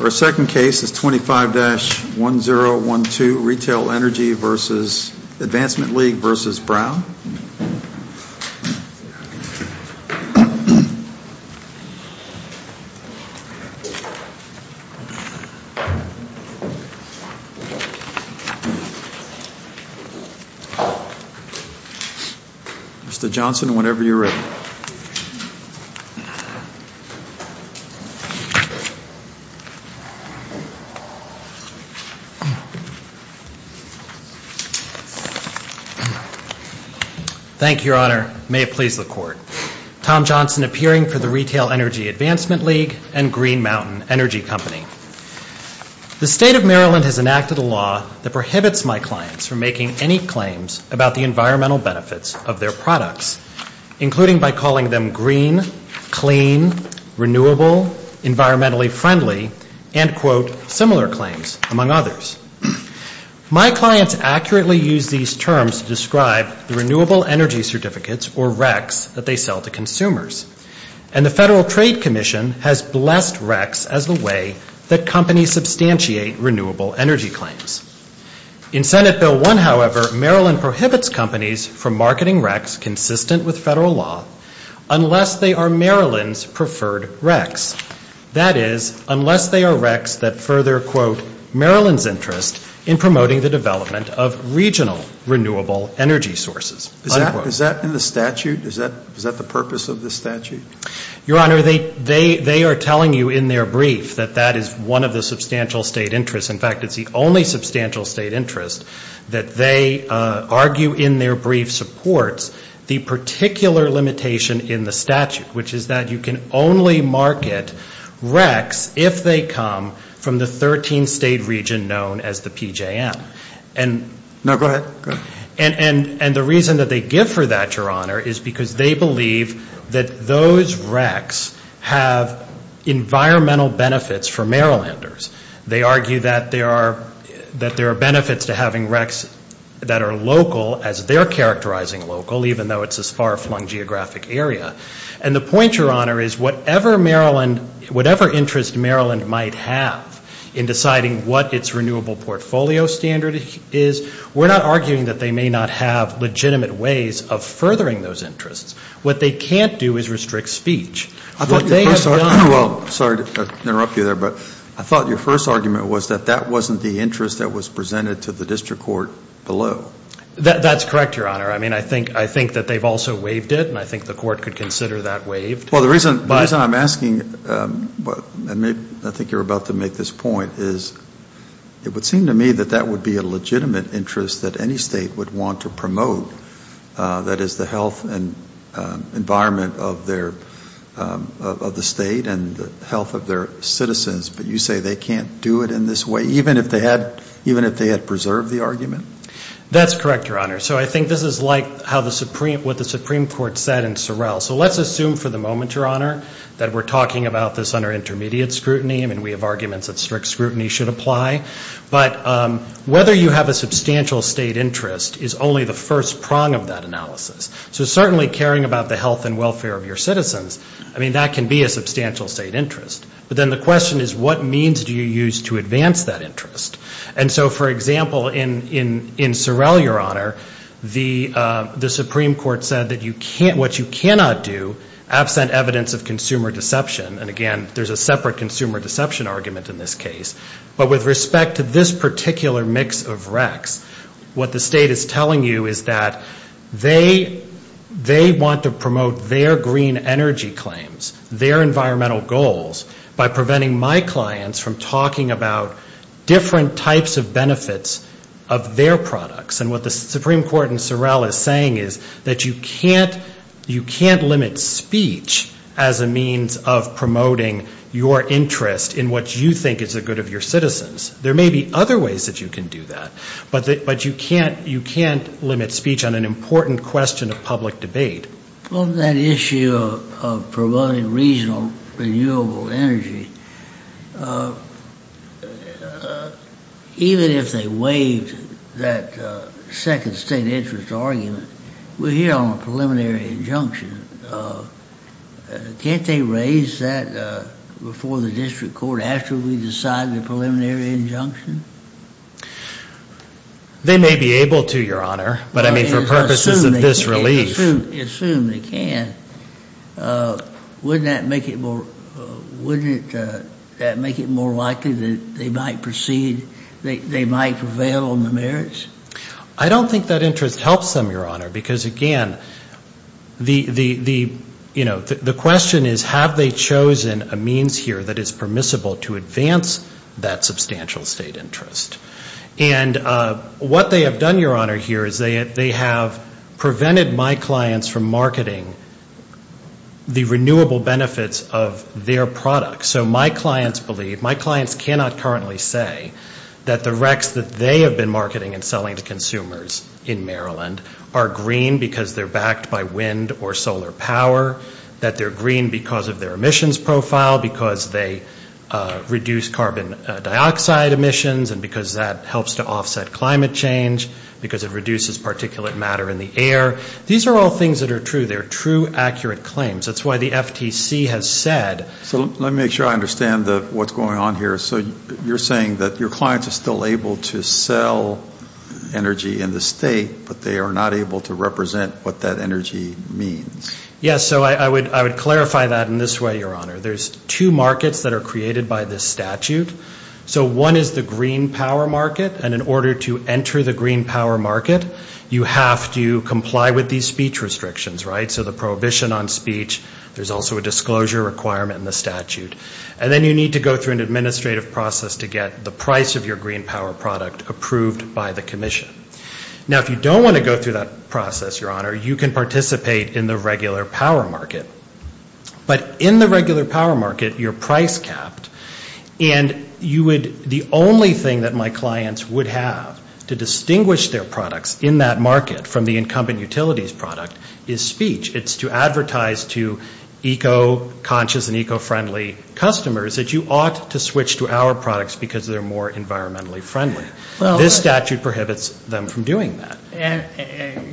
Our second case is 25-1012 Retail Energy vs. Advancement League vs. Brown. Mr. Johnson, whenever you're ready. Thank you, Your Honor. May it please the Court. Tom Johnson, appearing for the Retail Energy Advancement League and Green Mountain Energy Company. The State of Maryland has enacted a law that prohibits my clients from making any claims about the environmental benefits of their products, including by calling them green, clean, renewable, environmentally friendly, and, quote, similar claims, among others. My clients accurately use these terms to describe the renewable energy certificates, or RECs, that they sell to consumers. And the Federal Trade Commission has blessed RECs as the way that companies substantiate renewable energy claims. In Senate Bill 1, however, Maryland prohibits companies from marketing RECs consistent with federal law unless they are Maryland's preferred RECs. That is, unless they are RECs that further, quote, Maryland's interest in promoting the development of regional renewable energy sources. Is that in the statute? Is that the purpose of the statute? Your Honor, they are telling you in their brief that that is one of the substantial state interests. In fact, it's the only substantial state interest that they argue in their brief supports the particular limitation in the statute, which is that you can only market RECs if they come from the 13-state region known as the PJM. Now, go ahead. And the reason that they give for that, Your Honor, is because they believe that those RECs have environmental benefits for Marylanders. They argue that there are benefits to having RECs that are local, as they're characterizing local, even though it's a far-flung geographic area. And the point, Your Honor, is whatever Maryland, whatever interest Maryland might have in deciding what its renewable portfolio standard is, we're not arguing that they may not have legitimate ways of furthering those interests. What they can't do is restrict speech. What they have done — Well, sorry to interrupt you there, but I thought your first argument was that that wasn't the interest that was presented to the district court below. That's correct, Your Honor. I mean, I think that they've also waived it, and I think the court could consider that waived. Well, the reason I'm asking, and I think you're about to make this point, is it would seem to me that that would be a legitimate interest that any state would want to promote, that is, the health and environment of the state and the health of their citizens. But you say they can't do it in this way, even if they had preserved the argument? That's correct, Your Honor. So I think this is like what the Supreme Court said in Sorrell. So let's assume for the moment, Your Honor, that we're talking about this under intermediate scrutiny. I mean, we have arguments that strict scrutiny should apply. But whether you have a substantial state interest is only the first prong of that analysis. So certainly caring about the health and welfare of your citizens, I mean, that can be a substantial state interest. But then the question is, what means do you use to advance that interest? And so, for example, in Sorrell, Your Honor, the Supreme Court said that what you cannot do, absent evidence of consumer deception, and again, there's a separate consumer deception argument in this case, but with respect to this particular mix of recs, what the state is telling you is that they want to promote their green energy claims, their environmental goals, by preventing my clients from talking about different types of benefits of their products. And what the Supreme Court in Sorrell is saying is that you can't limit speech as a means of promoting your interest in what you think is the good of your citizens. There may be other ways that you can do that, but you can't limit speech on an important question of public debate. Well, that issue of promoting regional renewable energy, even if they waived that second state interest argument, we're here on a preliminary injunction. Can't they raise that before the district court after we decide the preliminary injunction? They may be able to, Your Honor. But, I mean, for purposes of this relief. Assume they can. Wouldn't that make it more likely that they might prevail on the merits? I don't think that interest helps them, Your Honor, because, again, the question is, have they chosen a means here that is permissible to advance that substantial state interest? And what they have done, Your Honor, here is they have prevented my clients from marketing the renewable benefits of their products. So my clients believe, my clients cannot currently say that the RECs that they have been marketing and selling to consumers in Maryland are green because they're backed by wind or solar power, that they're green because of their emissions profile, because they reduce carbon dioxide emissions, and because that helps to offset climate change, because it reduces particulate matter in the air. These are all things that are true. They're true, accurate claims. That's why the FTC has said. So let me make sure I understand what's going on here. So you're saying that your clients are still able to sell energy in the state, but they are not able to represent what that energy means. Yes. So I would clarify that in this way, Your Honor. There's two markets that are created by this statute. So one is the green power market, and in order to enter the green power market, you have to comply with these speech restrictions, right? So the prohibition on speech. There's also a disclosure requirement in the statute. And then you need to go through an administrative process to get the price of your green power product approved by the commission. Now, if you don't want to go through that process, Your Honor, you can participate in the regular power market. But in the regular power market, you're price capped, and the only thing that my clients would have to distinguish their products in that market from the incumbent utilities product is speech. It's to advertise to eco-conscious and eco-friendly customers that you ought to switch to our products because they're more environmentally friendly. This statute prohibits them from doing that.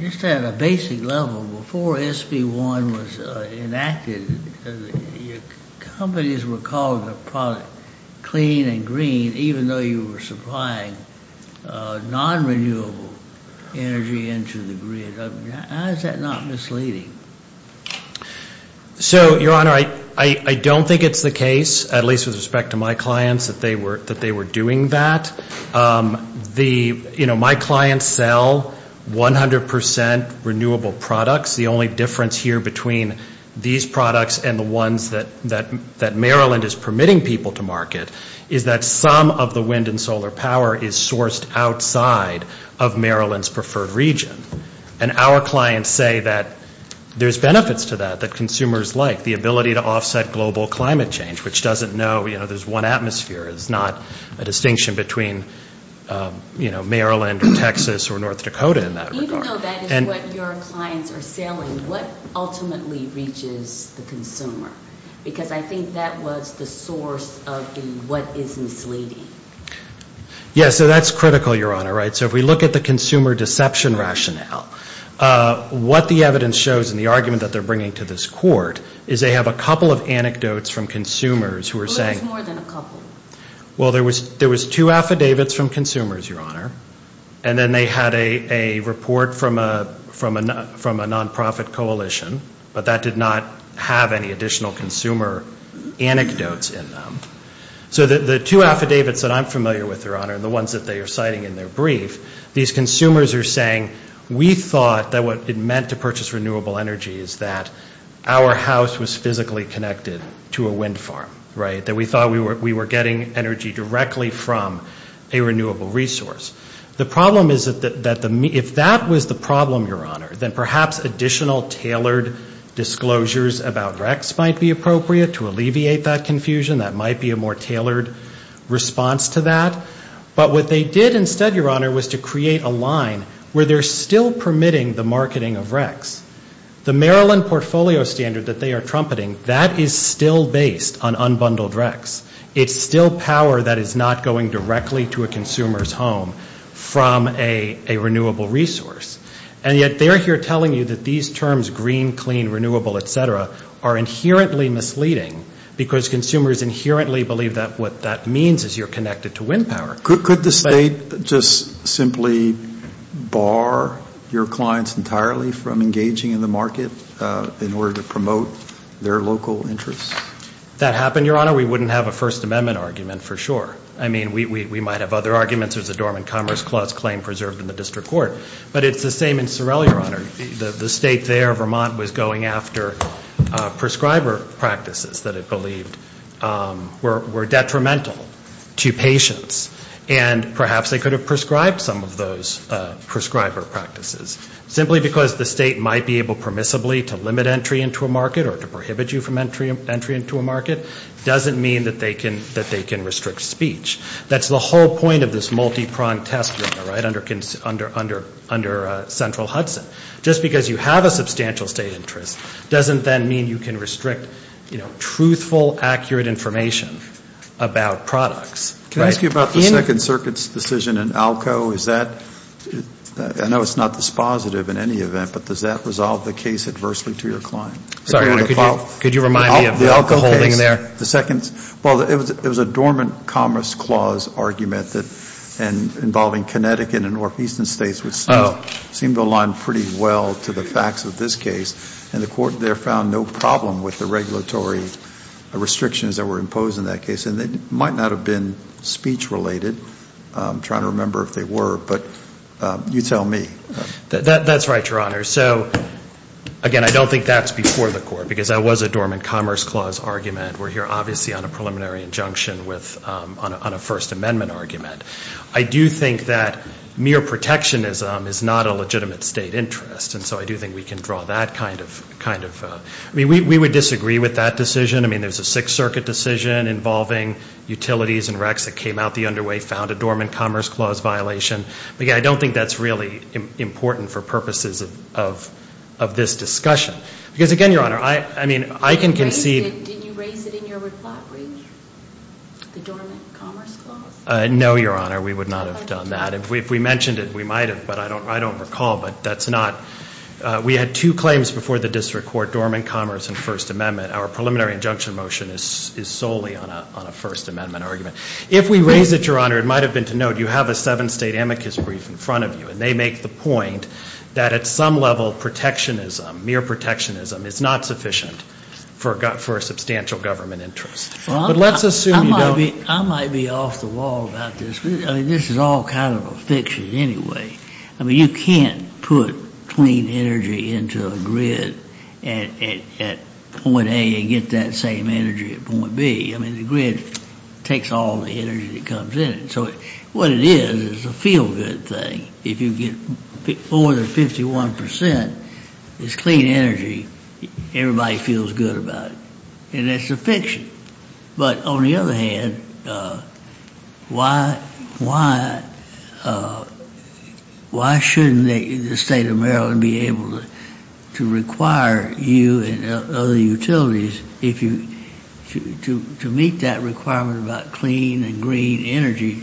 You said a basic level. Before SB1 was enacted, companies were calling the product clean and green, even though you were supplying non-renewable energy into the grid. How is that not misleading? So, Your Honor, I don't think it's the case, at least with respect to my clients, that they were doing that. You know, my clients sell 100% renewable products. The only difference here between these products and the ones that Maryland is permitting people to market is that some of the wind and solar power is sourced outside of Maryland's preferred region. And our clients say that there's benefits to that that consumers like, the ability to offset global climate change, which doesn't know, you know, there's one atmosphere. It's not a distinction between, you know, Maryland or Texas or North Dakota in that regard. Even though that is what your clients are selling, what ultimately reaches the consumer? Because I think that was the source of the what is misleading. Yeah, so that's critical, Your Honor, right? So if we look at the consumer deception rationale, what the evidence shows in the argument that they're bringing to this court is they have a couple of anecdotes from consumers who are saying Who is more than a couple? Well, there was two affidavits from consumers, Your Honor. And then they had a report from a nonprofit coalition. But that did not have any additional consumer anecdotes in them. So the two affidavits that I'm familiar with, Your Honor, and the ones that they are citing in their brief, these consumers are saying, we thought that what it meant to purchase renewable energy is that our house was physically connected to a wind farm, right? That we thought we were getting energy directly from a renewable resource. The problem is that if that was the problem, Your Honor, then perhaps additional tailored disclosures about Rex might be appropriate to alleviate that confusion. That might be a more tailored response to that. But what they did instead, Your Honor, was to create a line where they're still permitting the marketing of Rex. The Maryland portfolio standard that they are trumpeting, that is still based on unbundled Rex. It's still power that is not going directly to a consumer's home from a renewable resource. And yet they're here telling you that these terms, green, clean, renewable, et cetera, are inherently misleading because consumers inherently believe that what that means is you're connected to wind power. Could the state just simply bar your clients entirely from engaging in the market in order to promote their local interests? If that happened, Your Honor, we wouldn't have a First Amendment argument for sure. I mean, we might have other arguments. There's a dormant Commerce Clause claim preserved in the district court. But it's the same in Sorrell, Your Honor. The state there, Vermont, was going after prescriber practices that it believed were detrimental to patients. And perhaps they could have prescribed some of those prescriber practices. Simply because the state might be able permissibly to limit entry into a market or to prohibit you from entry into a market doesn't mean that they can restrict speech. That's the whole point of this multi-pronged test, Your Honor, right, under Central Hudson. Just because you have a substantial state interest doesn't then mean you can restrict, you know, truthful, accurate information about products. Can I ask you about the Second Circuit's decision in ALCO? I know it's not dispositive in any event, but does that resolve the case adversely to your client? Sorry, could you remind me of the ALCO case? Well, it was a dormant Commerce Clause argument involving Connecticut and Northeastern states, which seemed to align pretty well to the facts of this case. And the court there found no problem with the regulatory restrictions that were imposed in that case. And they might not have been speech related. I'm trying to remember if they were. But you tell me. That's right, Your Honor. So, again, I don't think that's before the court, because that was a dormant Commerce Clause argument. We're here, obviously, on a preliminary injunction on a First Amendment argument. I do think that mere protectionism is not a legitimate state interest. And so I do think we can draw that kind of – I mean, we would disagree with that decision. I mean, there's a Sixth Circuit decision involving utilities and recs that came out the underway, found a dormant Commerce Clause violation. But, again, I don't think that's really important for purposes of this discussion. Because, again, Your Honor, I mean, I can concede – Did you raise it in your reply brief, the dormant Commerce Clause? No, Your Honor, we would not have done that. If we mentioned it, we might have. But I don't recall. But that's not – we had two claims before the district court, dormant Commerce and First Amendment. Our preliminary injunction motion is solely on a First Amendment argument. If we raise it, Your Honor, it might have been to note you have a seven-state amicus brief in front of you, and they make the point that at some level protectionism, mere protectionism, is not sufficient for a substantial government interest. But let's assume you don't. I might be off the wall about this. I mean, this is all kind of a fiction anyway. I mean, you can't put clean energy into a grid at point A and get that same energy at point B. I mean, the grid takes all the energy that comes in. So what it is is a feel-good thing. If you get more than 51 percent, it's clean energy. Everybody feels good about it. And that's a fiction. But on the other hand, why shouldn't the state of Maryland be able to require you and other utilities to meet that requirement about clean and green energy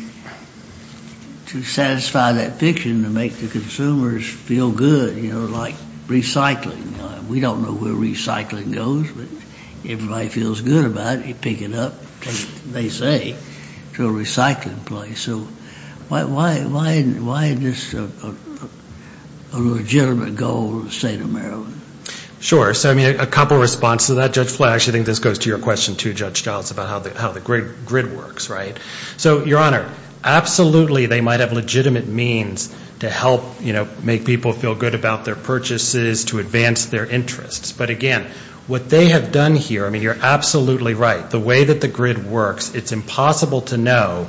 to satisfy that fiction, to make the consumers feel good, you know, like recycling. We don't know where recycling goes, but everybody feels good about it. You pick it up and take it, they say, to a recycling place. So why isn't this a legitimate goal of the state of Maryland? Sure. So, I mean, a couple of responses to that. Judge Fletcher, I think this goes to your question too, Judge Giles, about how the grid works, right? So, Your Honor, absolutely they might have legitimate means to help, you know, make people feel good about their purchases, to advance their interests. But, again, what they have done here, I mean, you're absolutely right. The way that the grid works, it's impossible to know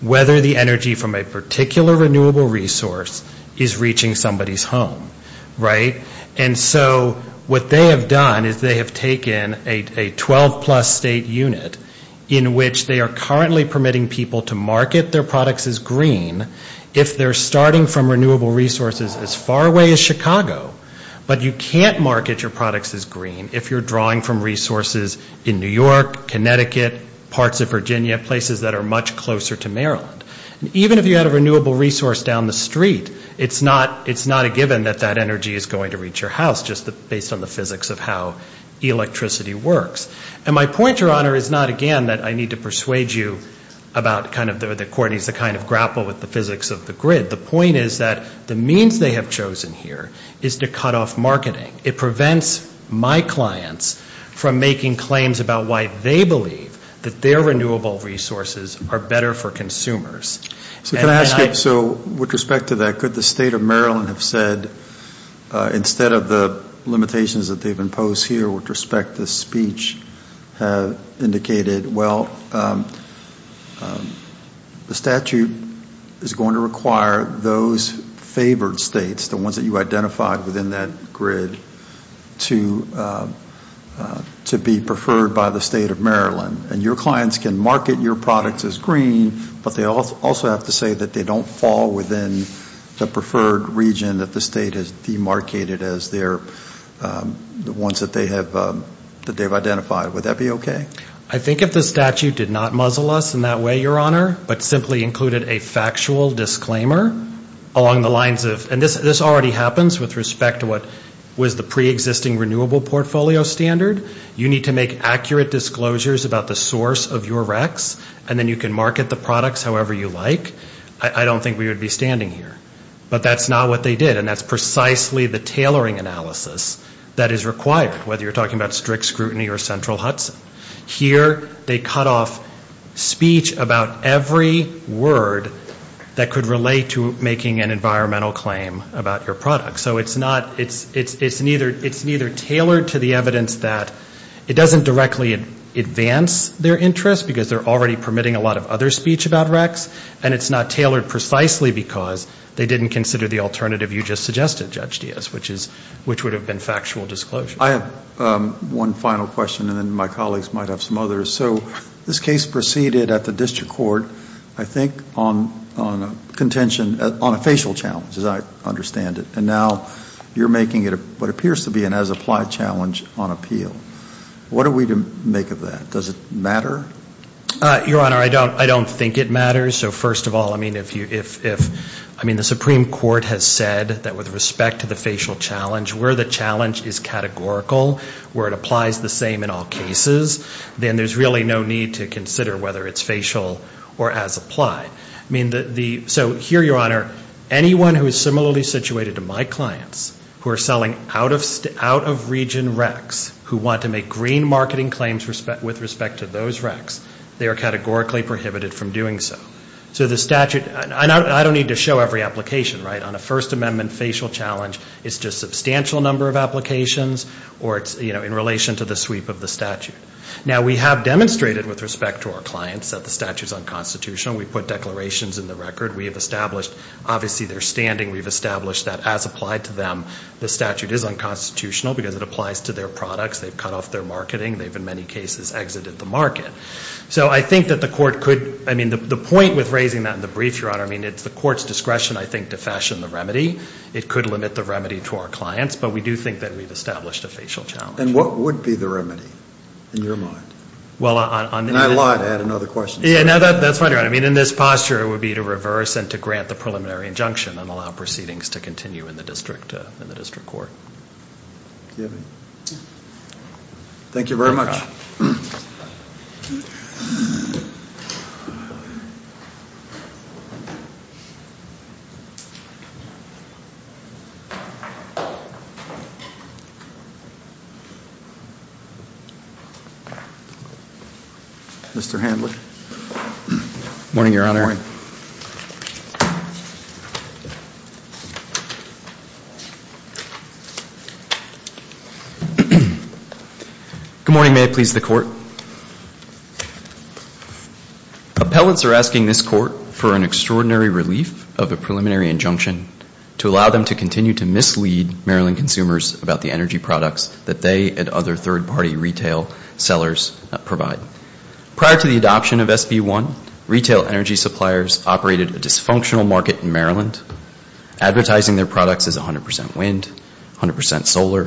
whether the energy from a particular renewable resource is reaching somebody's home, right? And so what they have done is they have taken a 12-plus state unit in which they are currently permitting people to market their products as green if they're starting from renewable resources as far away as Chicago. But you can't market your products as green if you're drawing from resources in New York, Connecticut, parts of Virginia, places that are much closer to Maryland. And even if you had a renewable resource down the street, it's not a given that that energy is going to reach your house, just based on the physics of how electricity works. And my point, Your Honor, is not, again, that I need to persuade you about kind of the kind of grapple with the physics of the grid. The point is that the means they have chosen here is to cut off marketing. It prevents my clients from making claims about why they believe that their renewable resources are better for consumers. So can I ask you, with respect to that, could the state of Maryland have said, instead of the limitations that they've imposed here, with respect to speech, have indicated, well, the statute is going to require those favored states, the ones that you identified within that grid, to be preferred by the state of Maryland. And your clients can market your products as green, but they also have to say that they don't fall within the preferred region that the state has demarcated as the ones that they've identified. Would that be okay? I think if the statute did not muzzle us in that way, Your Honor, but simply included a factual disclaimer along the lines of, and this already happens with respect to what was the preexisting renewable portfolio standard. You need to make accurate disclosures about the source of your RECs, and then you can market the products however you like. I don't think we would be standing here. But that's not what they did, and that's precisely the tailoring analysis that is required, whether you're talking about strict scrutiny or central Hudson. Here they cut off speech about every word that could relate to making an environmental claim about your product. So it's not, it's neither tailored to the evidence that, it doesn't directly advance their interest, because they're already permitting a lot of other speech about RECs, and it's not tailored precisely because they didn't consider the alternative you just suggested, Judge Diaz, which would have been factual disclosure. I have one final question, and then my colleagues might have some others. So this case proceeded at the district court, I think, on a contention, on a facial challenge, as I understand it. And now you're making it what appears to be an as-applied challenge on appeal. What are we to make of that? Does it matter? Your Honor, I don't think it matters. So first of all, I mean, if, I mean, the Supreme Court has said that with respect to the facial challenge, where the challenge is categorical, where it applies the same in all cases, then there's really no need to consider whether it's facial or as-applied. I mean, so here, Your Honor, anyone who is similarly situated to my clients, who are selling out-of-region RECs, who want to make green marketing claims with respect to those RECs, they are categorically prohibited from doing so. So the statute, and I don't need to show every application, right? On a First Amendment facial challenge, it's just a substantial number of applications, or it's, you know, in relation to the sweep of the statute. Now, we have demonstrated with respect to our clients that the statute is unconstitutional. We put declarations in the record. We have established, obviously, their standing. We've established that as-applied to them, the statute is unconstitutional because it applies to their products. They've cut off their marketing. They've, in many cases, exited the market. So I think that the court could, I mean, the point with raising that in the brief, Your Honor, I mean, it's the court's discretion, I think, to fashion the remedy. It could limit the remedy to our clients, but we do think that we've established a facial challenge. And what would be the remedy in your mind? Well, on the… And I lied. I had another question. Yeah, no, that's fine, Your Honor. I mean, in this posture, it would be to reverse and to grant the preliminary injunction and allow proceedings to continue in the district court. Thank you very much. Mr. Hanley. Good morning, Your Honor. Good morning. Good morning. May it please the court. Appellants are asking this court for an extraordinary relief of a preliminary injunction to allow them to continue to mislead Maryland consumers about the energy products that they and other third-party retail sellers provide. Prior to the adoption of SB1, retail energy suppliers operated a dysfunctional market in Maryland, advertising their products as 100% wind, 100% solar,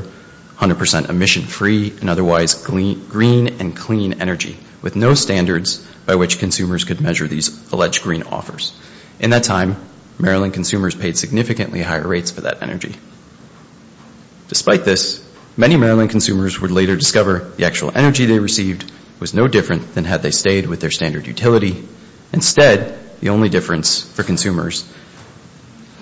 100% emission-free, and otherwise green and clean energy, with no standards by which consumers could measure these alleged green offers. In that time, Maryland consumers paid significantly higher rates for that energy. Despite this, many Maryland consumers would later discover the actual energy they received was no different than had they stayed with their standard utility. Instead, the only difference for consumers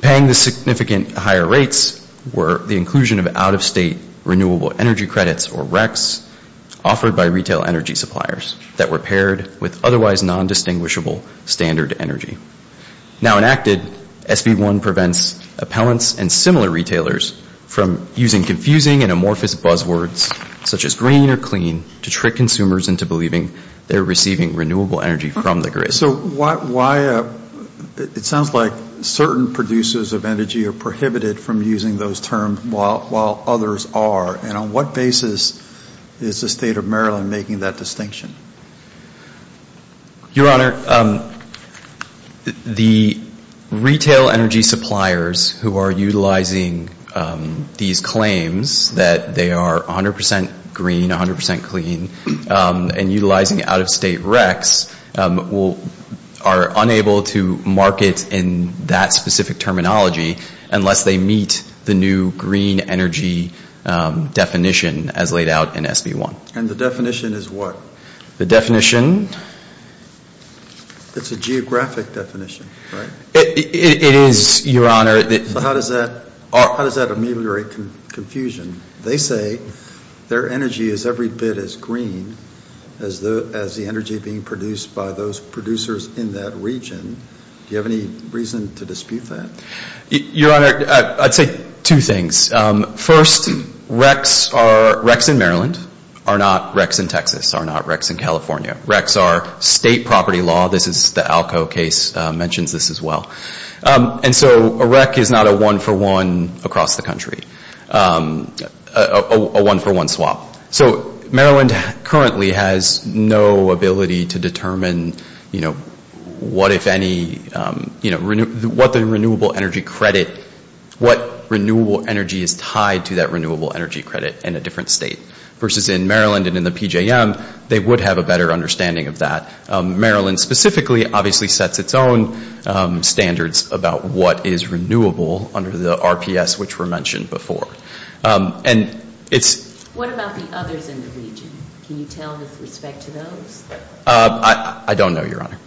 paying the significant higher rates were the inclusion of out-of-state renewable energy credits, or RECs, offered by retail energy suppliers that were paired with otherwise nondistinguishable standard energy. Now enacted, SB1 prevents appellants and similar retailers from using confusing and amorphous buzzwords such as green or clean to trick consumers into believing they're receiving renewable energy from the grid. So why, it sounds like certain producers of energy are prohibited from using those terms while others are. And on what basis is the State of Maryland making that distinction? Your Honor, the retail energy suppliers who are utilizing these claims that they are 100 percent green, 100 percent clean, and utilizing out-of-state RECs are unable to market in that specific terminology unless they meet the new green energy definition as laid out in SB1. And the definition is what? The definition? It's a geographic definition, right? It is, Your Honor. So how does that ameliorate confusion? They say their energy is every bit as green as the energy being produced by those producers in that region. Do you have any reason to dispute that? Your Honor, I'd say two things. First, RECs in Maryland are not RECs in Texas, are not RECs in California. RECs are state property law. The Alco case mentions this as well. And so a REC is not a one-for-one across the country, a one-for-one swap. So Maryland currently has no ability to determine what if any, what the renewable energy credit, what renewable energy is tied to that renewable energy credit in a different state. Versus in Maryland and in the PJM, they would have a better understanding of that. Maryland specifically obviously sets its own standards about what is renewable under the RPS which were mentioned before. And it's... What about the others in the region? Can you tell with respect to those? I don't know, Your Honor.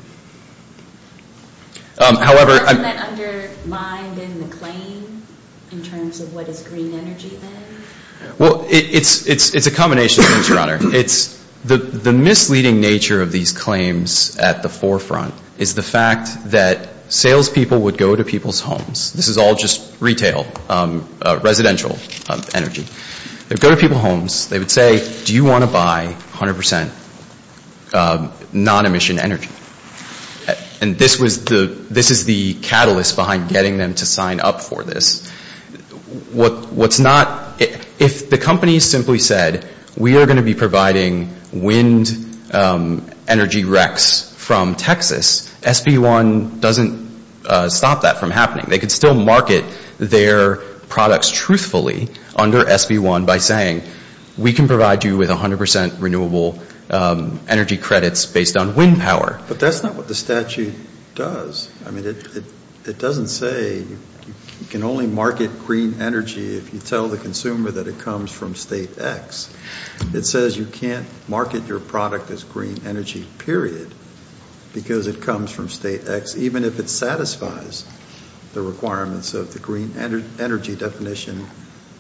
However... Doesn't that undermine then the claim in terms of what is green energy then? Well, it's a combination of things, Your Honor. It's... The misleading nature of these claims at the forefront is the fact that salespeople would go to people's homes. This is all just retail, residential energy. They would go to people's homes. They would say, do you want to buy 100% non-emission energy? And this was the, this is the catalyst behind getting them to sign up for this. What's not... If the company simply said, we are going to be providing wind energy recs from Texas, SB1 doesn't stop that from happening. They could still market their products truthfully under SB1 by saying, we can provide you with 100% renewable energy credits based on wind power. But that's not what the statute does. I mean, it doesn't say you can only market green energy if you tell the consumer that it comes from State X. It says you can't market your product as green energy, period, because it comes from State X, even if it satisfies the requirements of the green energy definition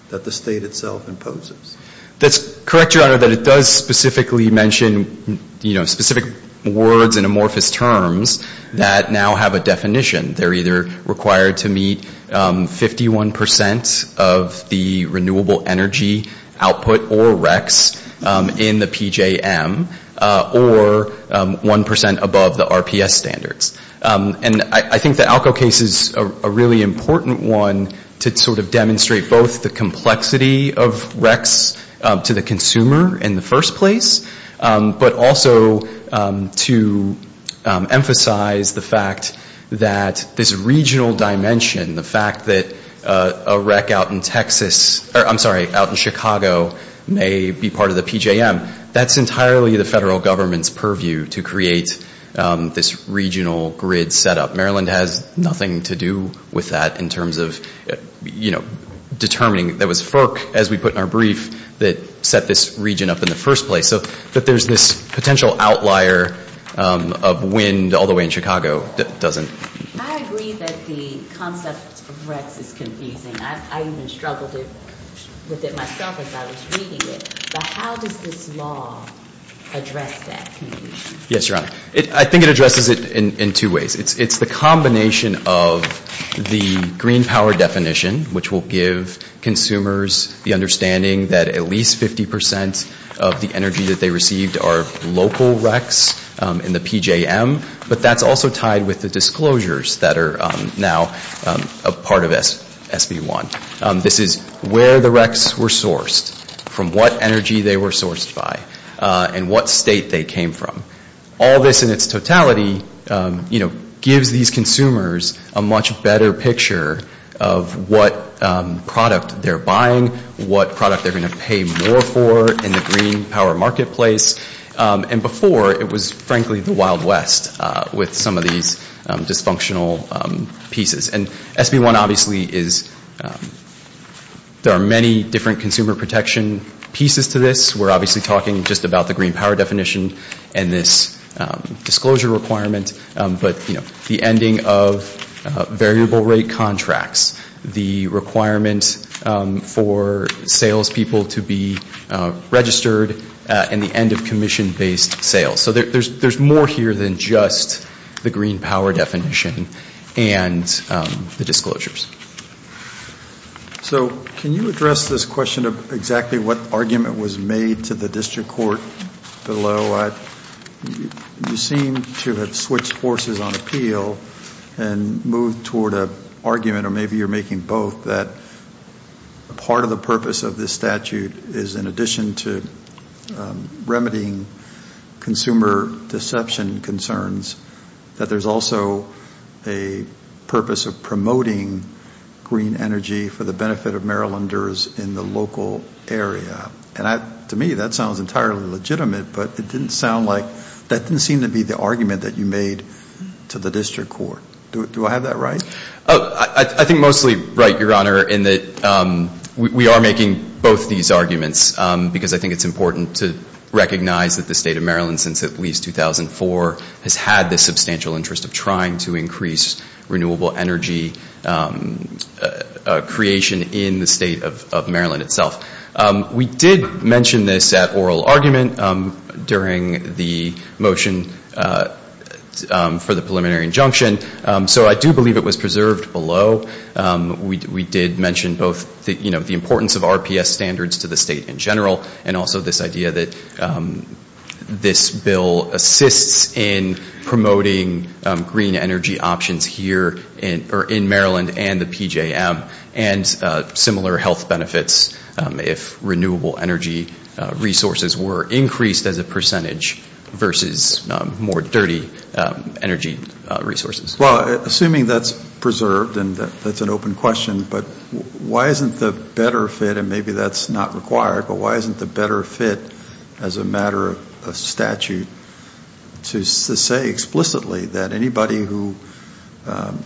that the State itself imposes. That's correct, Your Honor, that it does specifically mention, you know, specific words and amorphous terms that now have a definition. They're either required to meet 51% of the renewable energy output or recs in the PJM, or 1% above the RPS standards. And I think the ALCO case is a really important one to sort of demonstrate both the complexity of recs to the consumer in the first place, but also to emphasize the fact that this regional dimension, the fact that a rec out in Chicago may be part of the PJM, that's entirely the federal government's purview to create this regional grid setup. Maryland has nothing to do with that in terms of, you know, determining. That was FERC, as we put in our brief, that set this region up in the first place. So that there's this potential outlier of wind all the way in Chicago that doesn't. I agree that the concept of recs is confusing. I even struggled with it myself as I was reading it. But how does this law address that? Yes, Your Honor. I think it addresses it in two ways. It's the combination of the green power definition, which will give consumers the understanding that at least 50% of the energy that they received are local recs in the PJM. But that's also tied with the disclosures that are now a part of SB1. This is where the recs were sourced, from what energy they were sourced by, and what state they came from. All this in its totality, you know, gives these consumers a much better picture of what product they're buying, what product they're going to pay more for in the green power marketplace. And before, it was frankly the Wild West with some of these dysfunctional pieces. And SB1 obviously is, there are many different consumer protection pieces to this. We're obviously talking just about the green power definition and this disclosure requirement. But, you know, the ending of variable rate contracts, the requirement for salespeople to be registered, and the end of commission-based sales. So there's more here than just the green power definition and the disclosures. So can you address this question of exactly what argument was made to the district court below? You seem to have switched forces on appeal and moved toward an argument, or maybe you're making both, that part of the purpose of this statute is in addition to remedying consumer deception concerns, that there's also a purpose of promoting green energy for the benefit of Marylanders in the local area. And to me, that sounds entirely legitimate, but it didn't sound like, that didn't seem to be the argument that you made to the district court. Do I have that right? I think mostly right, Your Honor, in that we are making both these arguments, because I think it's important to recognize that the state of Maryland, since at least 2004, has had this substantial interest of trying to increase renewable energy creation in the state of Maryland itself. We did mention this at oral argument during the motion for the preliminary injunction. So I do believe it was preserved below. We did mention both the importance of RPS standards to the state in general, and also this idea that this bill assists in promoting green energy options here in Maryland and the PJM, and similar health benefits if renewable energy resources were increased as a percentage versus more dirty energy resources. Well, assuming that's preserved and that's an open question, but why isn't the better fit, and maybe that's not required, but why isn't the better fit as a matter of statute to say explicitly that anybody who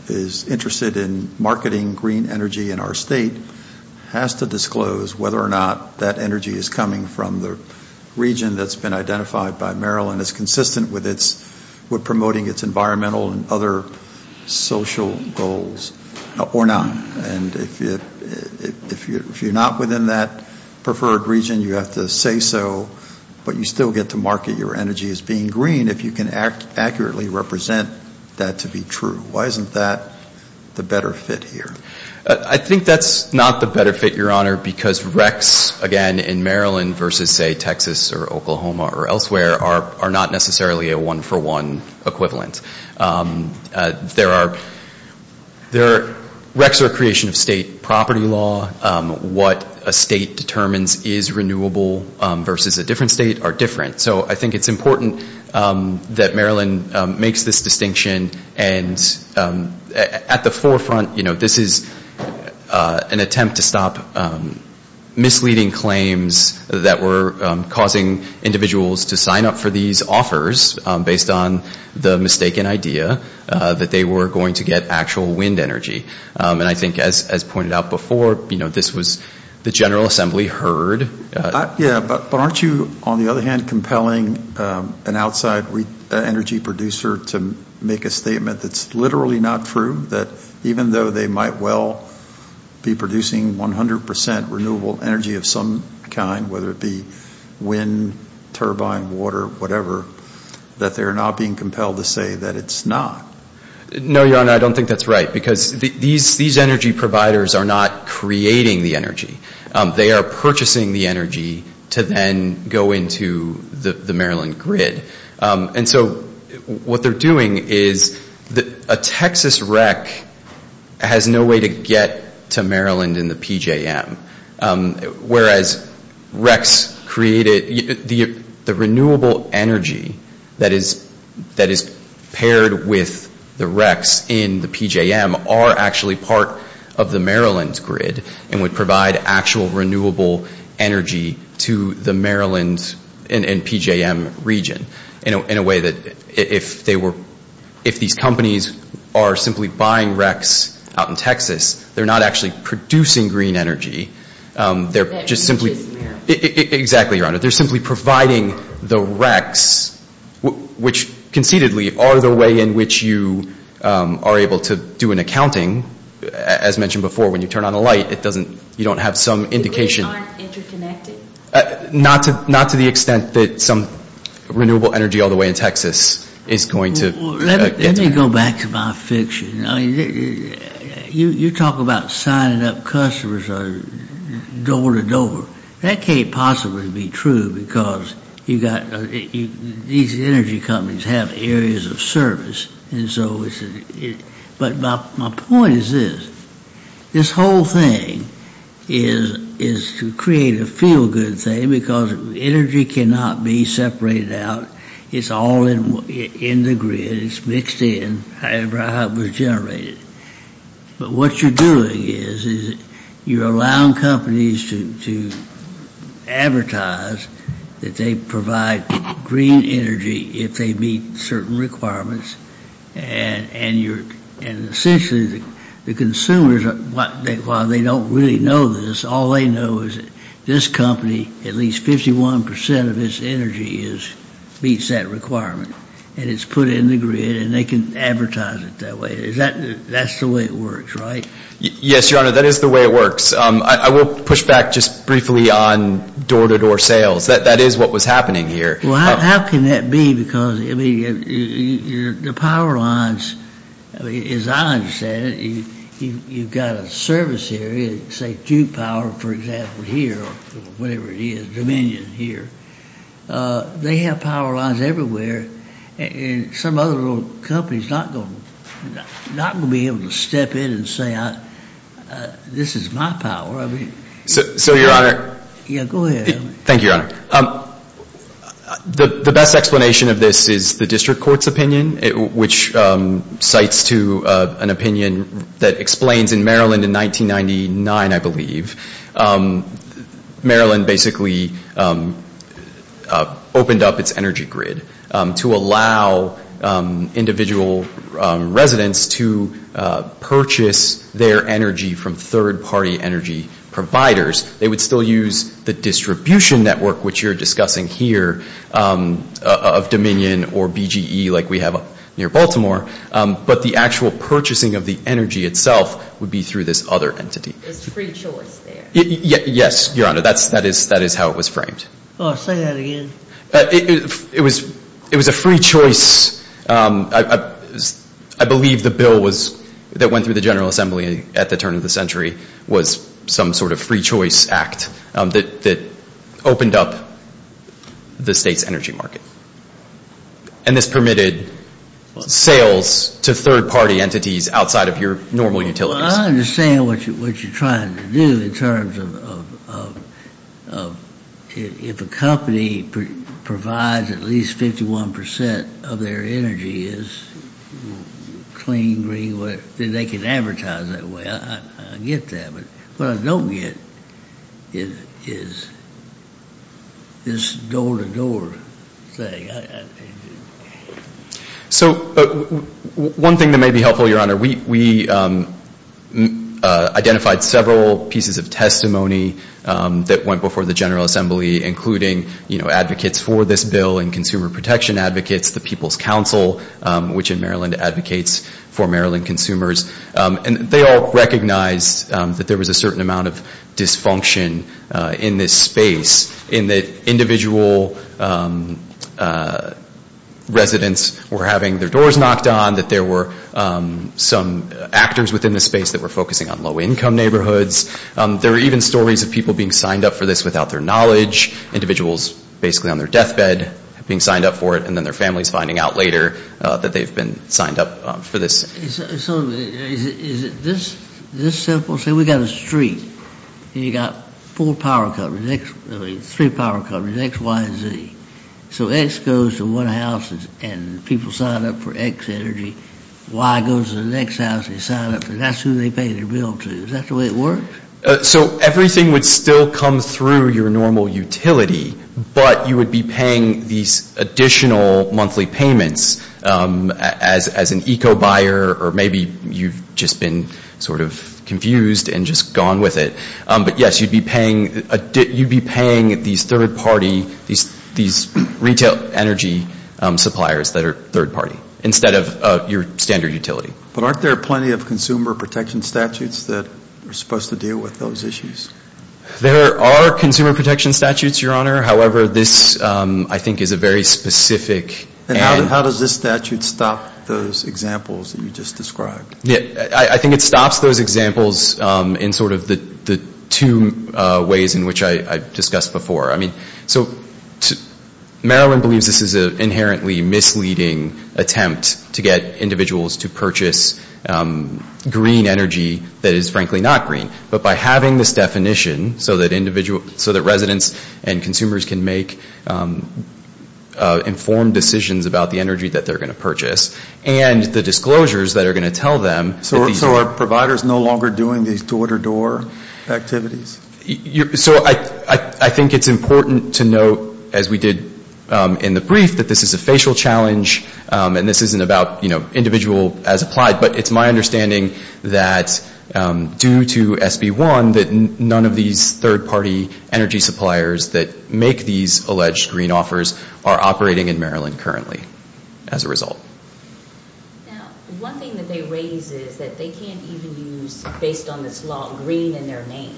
is interested in marketing green energy in our state has to disclose whether or not that energy is coming from the region that's been identified by Maryland and is consistent with promoting its environmental and other social goals or not? And if you're not within that preferred region, you have to say so, but you still get to market your energy as being green if you can accurately represent that to be true. Why isn't that the better fit here? I think that's not the better fit, Your Honor, because RECs, again, in Maryland versus, say, Texas or Oklahoma or elsewhere are not necessarily a one-for-one equivalent. There are RECs are a creation of state property law. What a state determines is renewable versus a different state are different. So I think it's important that Maryland makes this distinction, and at the forefront, this is an attempt to stop misleading claims that were causing individuals to sign up for these offers based on the mistaken idea that they were going to get actual wind energy. And I think, as pointed out before, this was the General Assembly heard. But aren't you, on the other hand, compelling an outside energy producer to make a statement that's literally not true, that even though they might well be producing 100 percent renewable energy of some kind, whether it be wind, turbine, water, whatever, that they're not being compelled to say that it's not? No, Your Honor, I don't think that's right, because these energy providers are not creating the energy. They are purchasing the energy to then go into the Maryland grid. And so what they're doing is a Texas REC has no way to get to Maryland in the PJM, whereas RECs create it. The renewable energy that is paired with the RECs in the PJM are actually part of the Maryland grid and would provide actual renewable energy to the Maryland and PJM region in a way that if these companies are simply buying RECs out in Texas, they're not actually producing green energy. They're just simply providing the RECs, which concededly are the way in which you are able to do an accounting. As mentioned before, when you turn on a light, you don't have some indication. So they aren't interconnected? Not to the extent that some renewable energy all the way in Texas is going to get to Maryland. Let me go back to my fiction. You talk about signing up customers door to door. That can't possibly be true, because these energy companies have areas of service. But my point is this. This whole thing is to create a feel-good thing, because energy cannot be separated out. It's all in the grid. It's mixed in, however it was generated. But what you're doing is you're allowing companies to advertise that they provide green energy if they meet certain requirements. And essentially the consumers, while they don't really know this, all they know is this company, at least 51% of its energy meets that requirement. And it's put in the grid, and they can advertise it that way. That's the way it works, right? Yes, Your Honor, that is the way it works. I will push back just briefly on door to door sales. That is what was happening here. Well, how can that be, because the power lines, as I understand it, you've got a service area, say Duke Power, for example, here, or whatever it is, Dominion here. They have power lines everywhere. And some other little company is not going to be able to step in and say, this is my power. So, Your Honor. Go ahead. Thank you, Your Honor. The best explanation of this is the district court's opinion, which cites to an opinion that explains in Maryland in 1999, I believe, Maryland basically opened up its energy grid to allow individual residents to purchase their energy from third-party energy providers. They would still use the distribution network, which you're discussing here, of Dominion or BGE like we have near Baltimore, but the actual purchasing of the energy itself would be through this other entity. It's free choice there. Yes, Your Honor. That is how it was framed. Say that again. It was a free choice. I believe the bill that went through the General Assembly at the turn of the century was some sort of free choice act that opened up the state's energy market. And this permitted sales to third-party entities outside of your normal utilities. I understand what you're trying to do in terms of, if a company provides at least 51% of their energy as clean, green, then they can advertise that way. I get that. But what I don't get is this door-to-door thing. So one thing that may be helpful, Your Honor, we identified several pieces of testimony that went before the General Assembly, including advocates for this bill and consumer protection advocates, the People's Council, which in Maryland advocates for Maryland consumers. They all recognized that there was a certain amount of dysfunction in this space, in that individual residents were having their doors knocked on, that there were some actors within the space that were focusing on low-income neighborhoods. There were even stories of people being signed up for this without their knowledge, individuals basically on their deathbed being signed up for it, and then their families finding out later that they've been signed up for this. So is it this simple? Say we've got a street, and you've got four power companies, three power companies, X, Y, and Z. So X goes to one house, and people sign up for X energy. Y goes to the next house, they sign up, and that's who they pay their bill to. Is that the way it works? So everything would still come through your normal utility, but you would be paying these additional monthly payments as an eco-buyer, or maybe you've just been sort of confused and just gone with it. But, yes, you'd be paying these third-party, these retail energy suppliers that are third-party, instead of your standard utility. But aren't there plenty of consumer protection statutes that are supposed to deal with those issues? There are consumer protection statutes, Your Honor. However, this, I think, is a very specific. And how does this statute stop those examples that you just described? I think it stops those examples in sort of the two ways in which I discussed before. So Maryland believes this is an inherently misleading attempt to get individuals to purchase green energy that is, frankly, not green, but by having this definition so that residents and consumers can make informed decisions about the energy that they're going to purchase and the disclosures that are going to tell them. So are providers no longer doing these door-to-door activities? So I think it's important to note, as we did in the brief, that this is a facial challenge, and this isn't about individual as applied. But it's my understanding that, due to SB 1, that none of these third-party energy suppliers that make these alleged green offers are operating in Maryland currently as a result. Now, one thing that they raise is that they can't even use, based on this law, green in their name.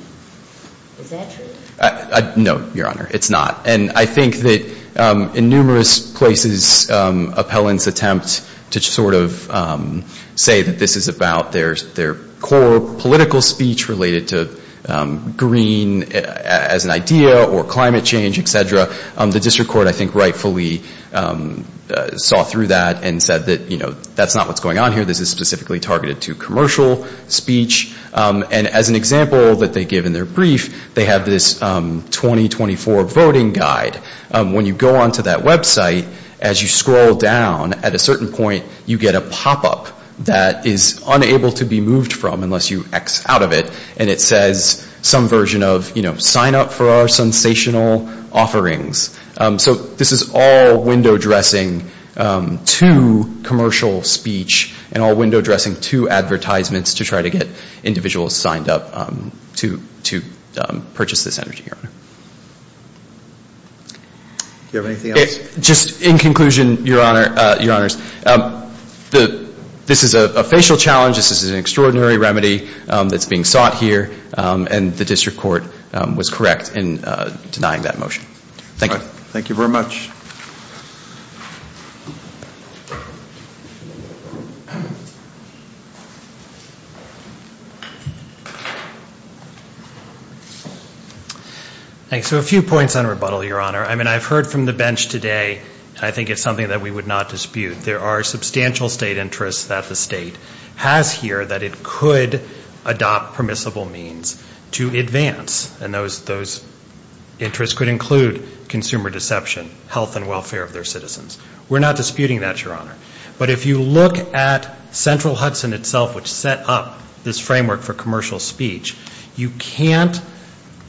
Is that true? No, Your Honor, it's not. And I think that, in numerous places, appellants attempt to sort of say that this is about their core political speech related to green as an idea or climate change, et cetera. The district court, I think, rightfully saw through that and said that, you know, that's not what's going on here. This is specifically targeted to commercial speech. And as an example that they give in their brief, they have this 2024 voting guide. When you go onto that website, as you scroll down, at a certain point, you get a pop-up that is unable to be moved from unless you X out of it. And it says some version of, you know, sign up for our sensational offerings. So this is all window dressing to commercial speech and all window dressing to advertisements to try to get individuals signed up to purchase this energy, Your Honor. Do you have anything else? Just in conclusion, Your Honors, this is a facial challenge. This is an extraordinary remedy that's being sought here. And the district court was correct in denying that motion. Thank you. Thank you very much. Thanks. So a few points on rebuttal, Your Honor. I mean, I've heard from the bench today, and I think it's something that we would not dispute. There are substantial state interests that the state has here that it could adopt permissible means to advance. And those interests could include consumer deception, health and welfare of their citizens. We're not disputing that, Your Honor. But if you look at Central Hudson itself, which set up this framework for commercial speech, you can't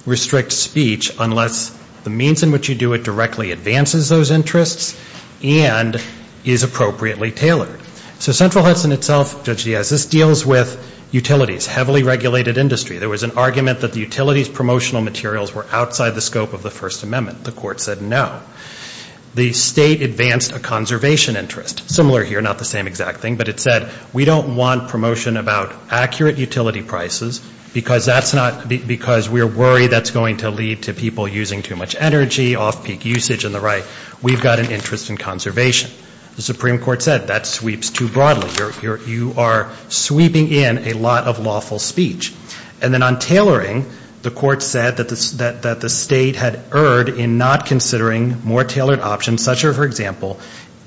restrict speech unless the means in which you do it directly advances those interests and is appropriately tailored. So Central Hudson itself, Judge Diaz, this deals with utilities, heavily regulated industry. There was an argument that the utilities promotional materials were outside the scope of the First Amendment. The court said no. The state advanced a conservation interest. Similar here, not the same exact thing, but it said we don't want promotion about accurate utility prices because we're worried that's going to lead to people using too much energy, off-peak usage and the like. We've got an interest in conservation. The Supreme Court said that sweeps too broadly. You are sweeping in a lot of lawful speech. And then on tailoring, the court said that the state had erred in not considering more tailored options, such are, for example,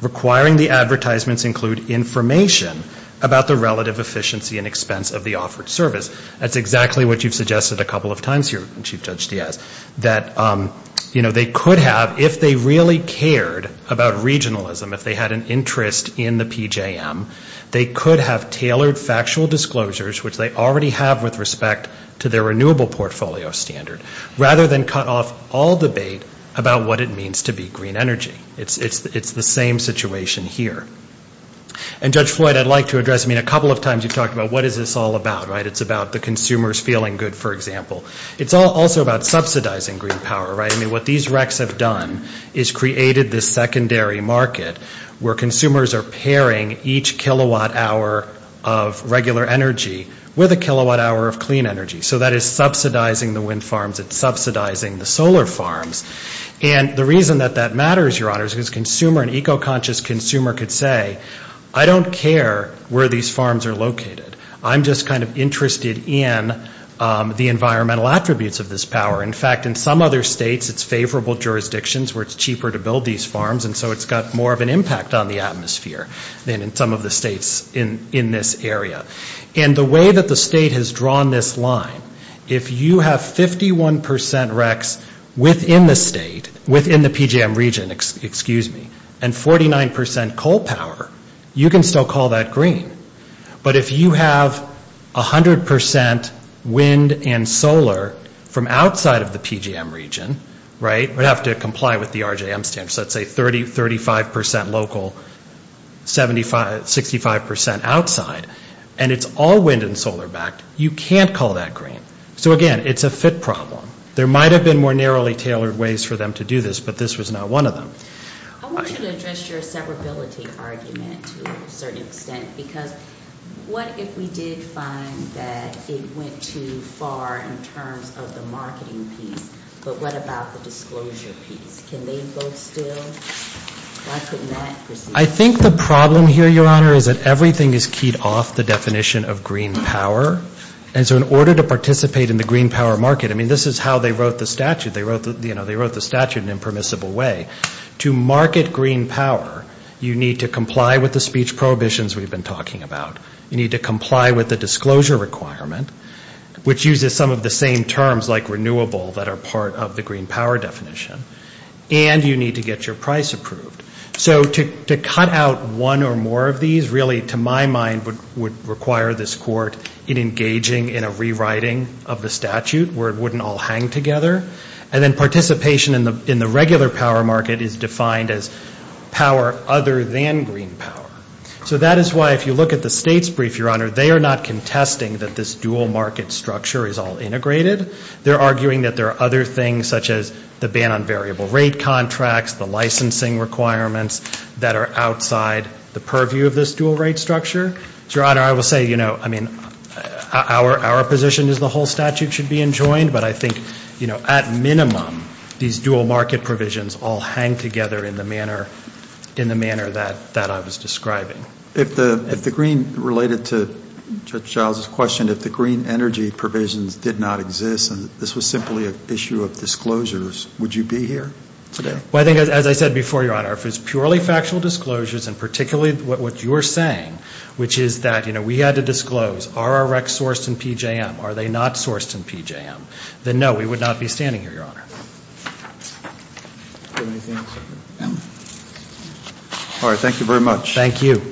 requiring the advertisements include information about the relative efficiency and expense of the offered service. That's exactly what you've suggested a couple of times here, Chief Judge Diaz, that, you know, they could have, if they really cared about regionalism, if they had an interest in the PJM, they could have tailored factual disclosures, which they already have with respect to their renewable portfolio standard, rather than cut off all debate about what it means to be green energy. It's the same situation here. And, Judge Floyd, I'd like to address, I mean, a couple of times you've talked about what is this all about, right? It's about the consumers feeling good, for example. It's also about subsidizing green power, right? I mean, what these recs have done is created this secondary market where consumers are pairing each kilowatt hour of regular energy with a kilowatt hour of clean energy. So that is subsidizing the wind farms. It's subsidizing the solar farms. And the reason that that matters, Your Honors, is because an eco-conscious consumer could say, I don't care where these farms are located. I'm just kind of interested in the environmental attributes of this power. In fact, in some other states, it's favorable jurisdictions where it's cheaper to build these farms, and so it's got more of an impact on the atmosphere than in some of the states in this area. And the way that the state has drawn this line, if you have 51 percent recs within the state, within the PJM region, excuse me, and 49 percent coal power, you can still call that green. But if you have 100 percent wind and solar from outside of the PJM region, right, you would have to comply with the RJM standards. Let's say 35 percent local, 65 percent outside, and it's all wind and solar backed, you can't call that green. So again, it's a fit problem. There might have been more narrowly tailored ways for them to do this, but this was not one of them. I want you to address your separability argument to a certain extent, because what if we did find that it went too far in terms of the marketing piece, but what about the disclosure piece? Can they vote still? Why couldn't that proceed? I think the problem here, Your Honor, is that everything is keyed off the definition of green power. And so in order to participate in the green power market, I mean, this is how they wrote the statute. They wrote the statute in an impermissible way. To market green power, you need to comply with the speech prohibitions we've been talking about. You need to comply with the disclosure requirement, which uses some of the same terms like renewable that are part of the green power definition. And you need to get your price approved. So to cut out one or more of these really, to my mind, would require this court engaging in a rewriting of the statute where it wouldn't all hang together. And then participation in the regular power market is defined as power other than green power. So that is why if you look at the state's brief, Your Honor, they are not contesting that this dual market structure is all integrated. They're arguing that there are other things such as the ban on variable rate contracts, the licensing requirements that are outside the purview of this dual rate structure. So, Your Honor, I will say, you know, I mean, our position is the whole statute should be enjoined, but I think, you know, at minimum, these dual market provisions all hang together in the manner that I was describing. If the green related to Judge Giles' question, if the green energy provisions did not exist and this was simply an issue of disclosures, would you be here today? Well, I think as I said before, Your Honor, if it's purely factual disclosures and particularly what you are saying, which is that, you know, we had to disclose, are our recs sourced in PJM? Are they not sourced in PJM? Then, no, we would not be standing here, Your Honor. All right. Thank you very much. Thank you.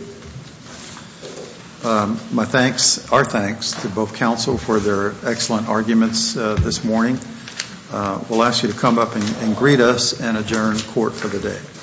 My thanks, our thanks to both counsel for their excellent arguments this morning. We'll ask you to come up and greet us and adjourn court for the day.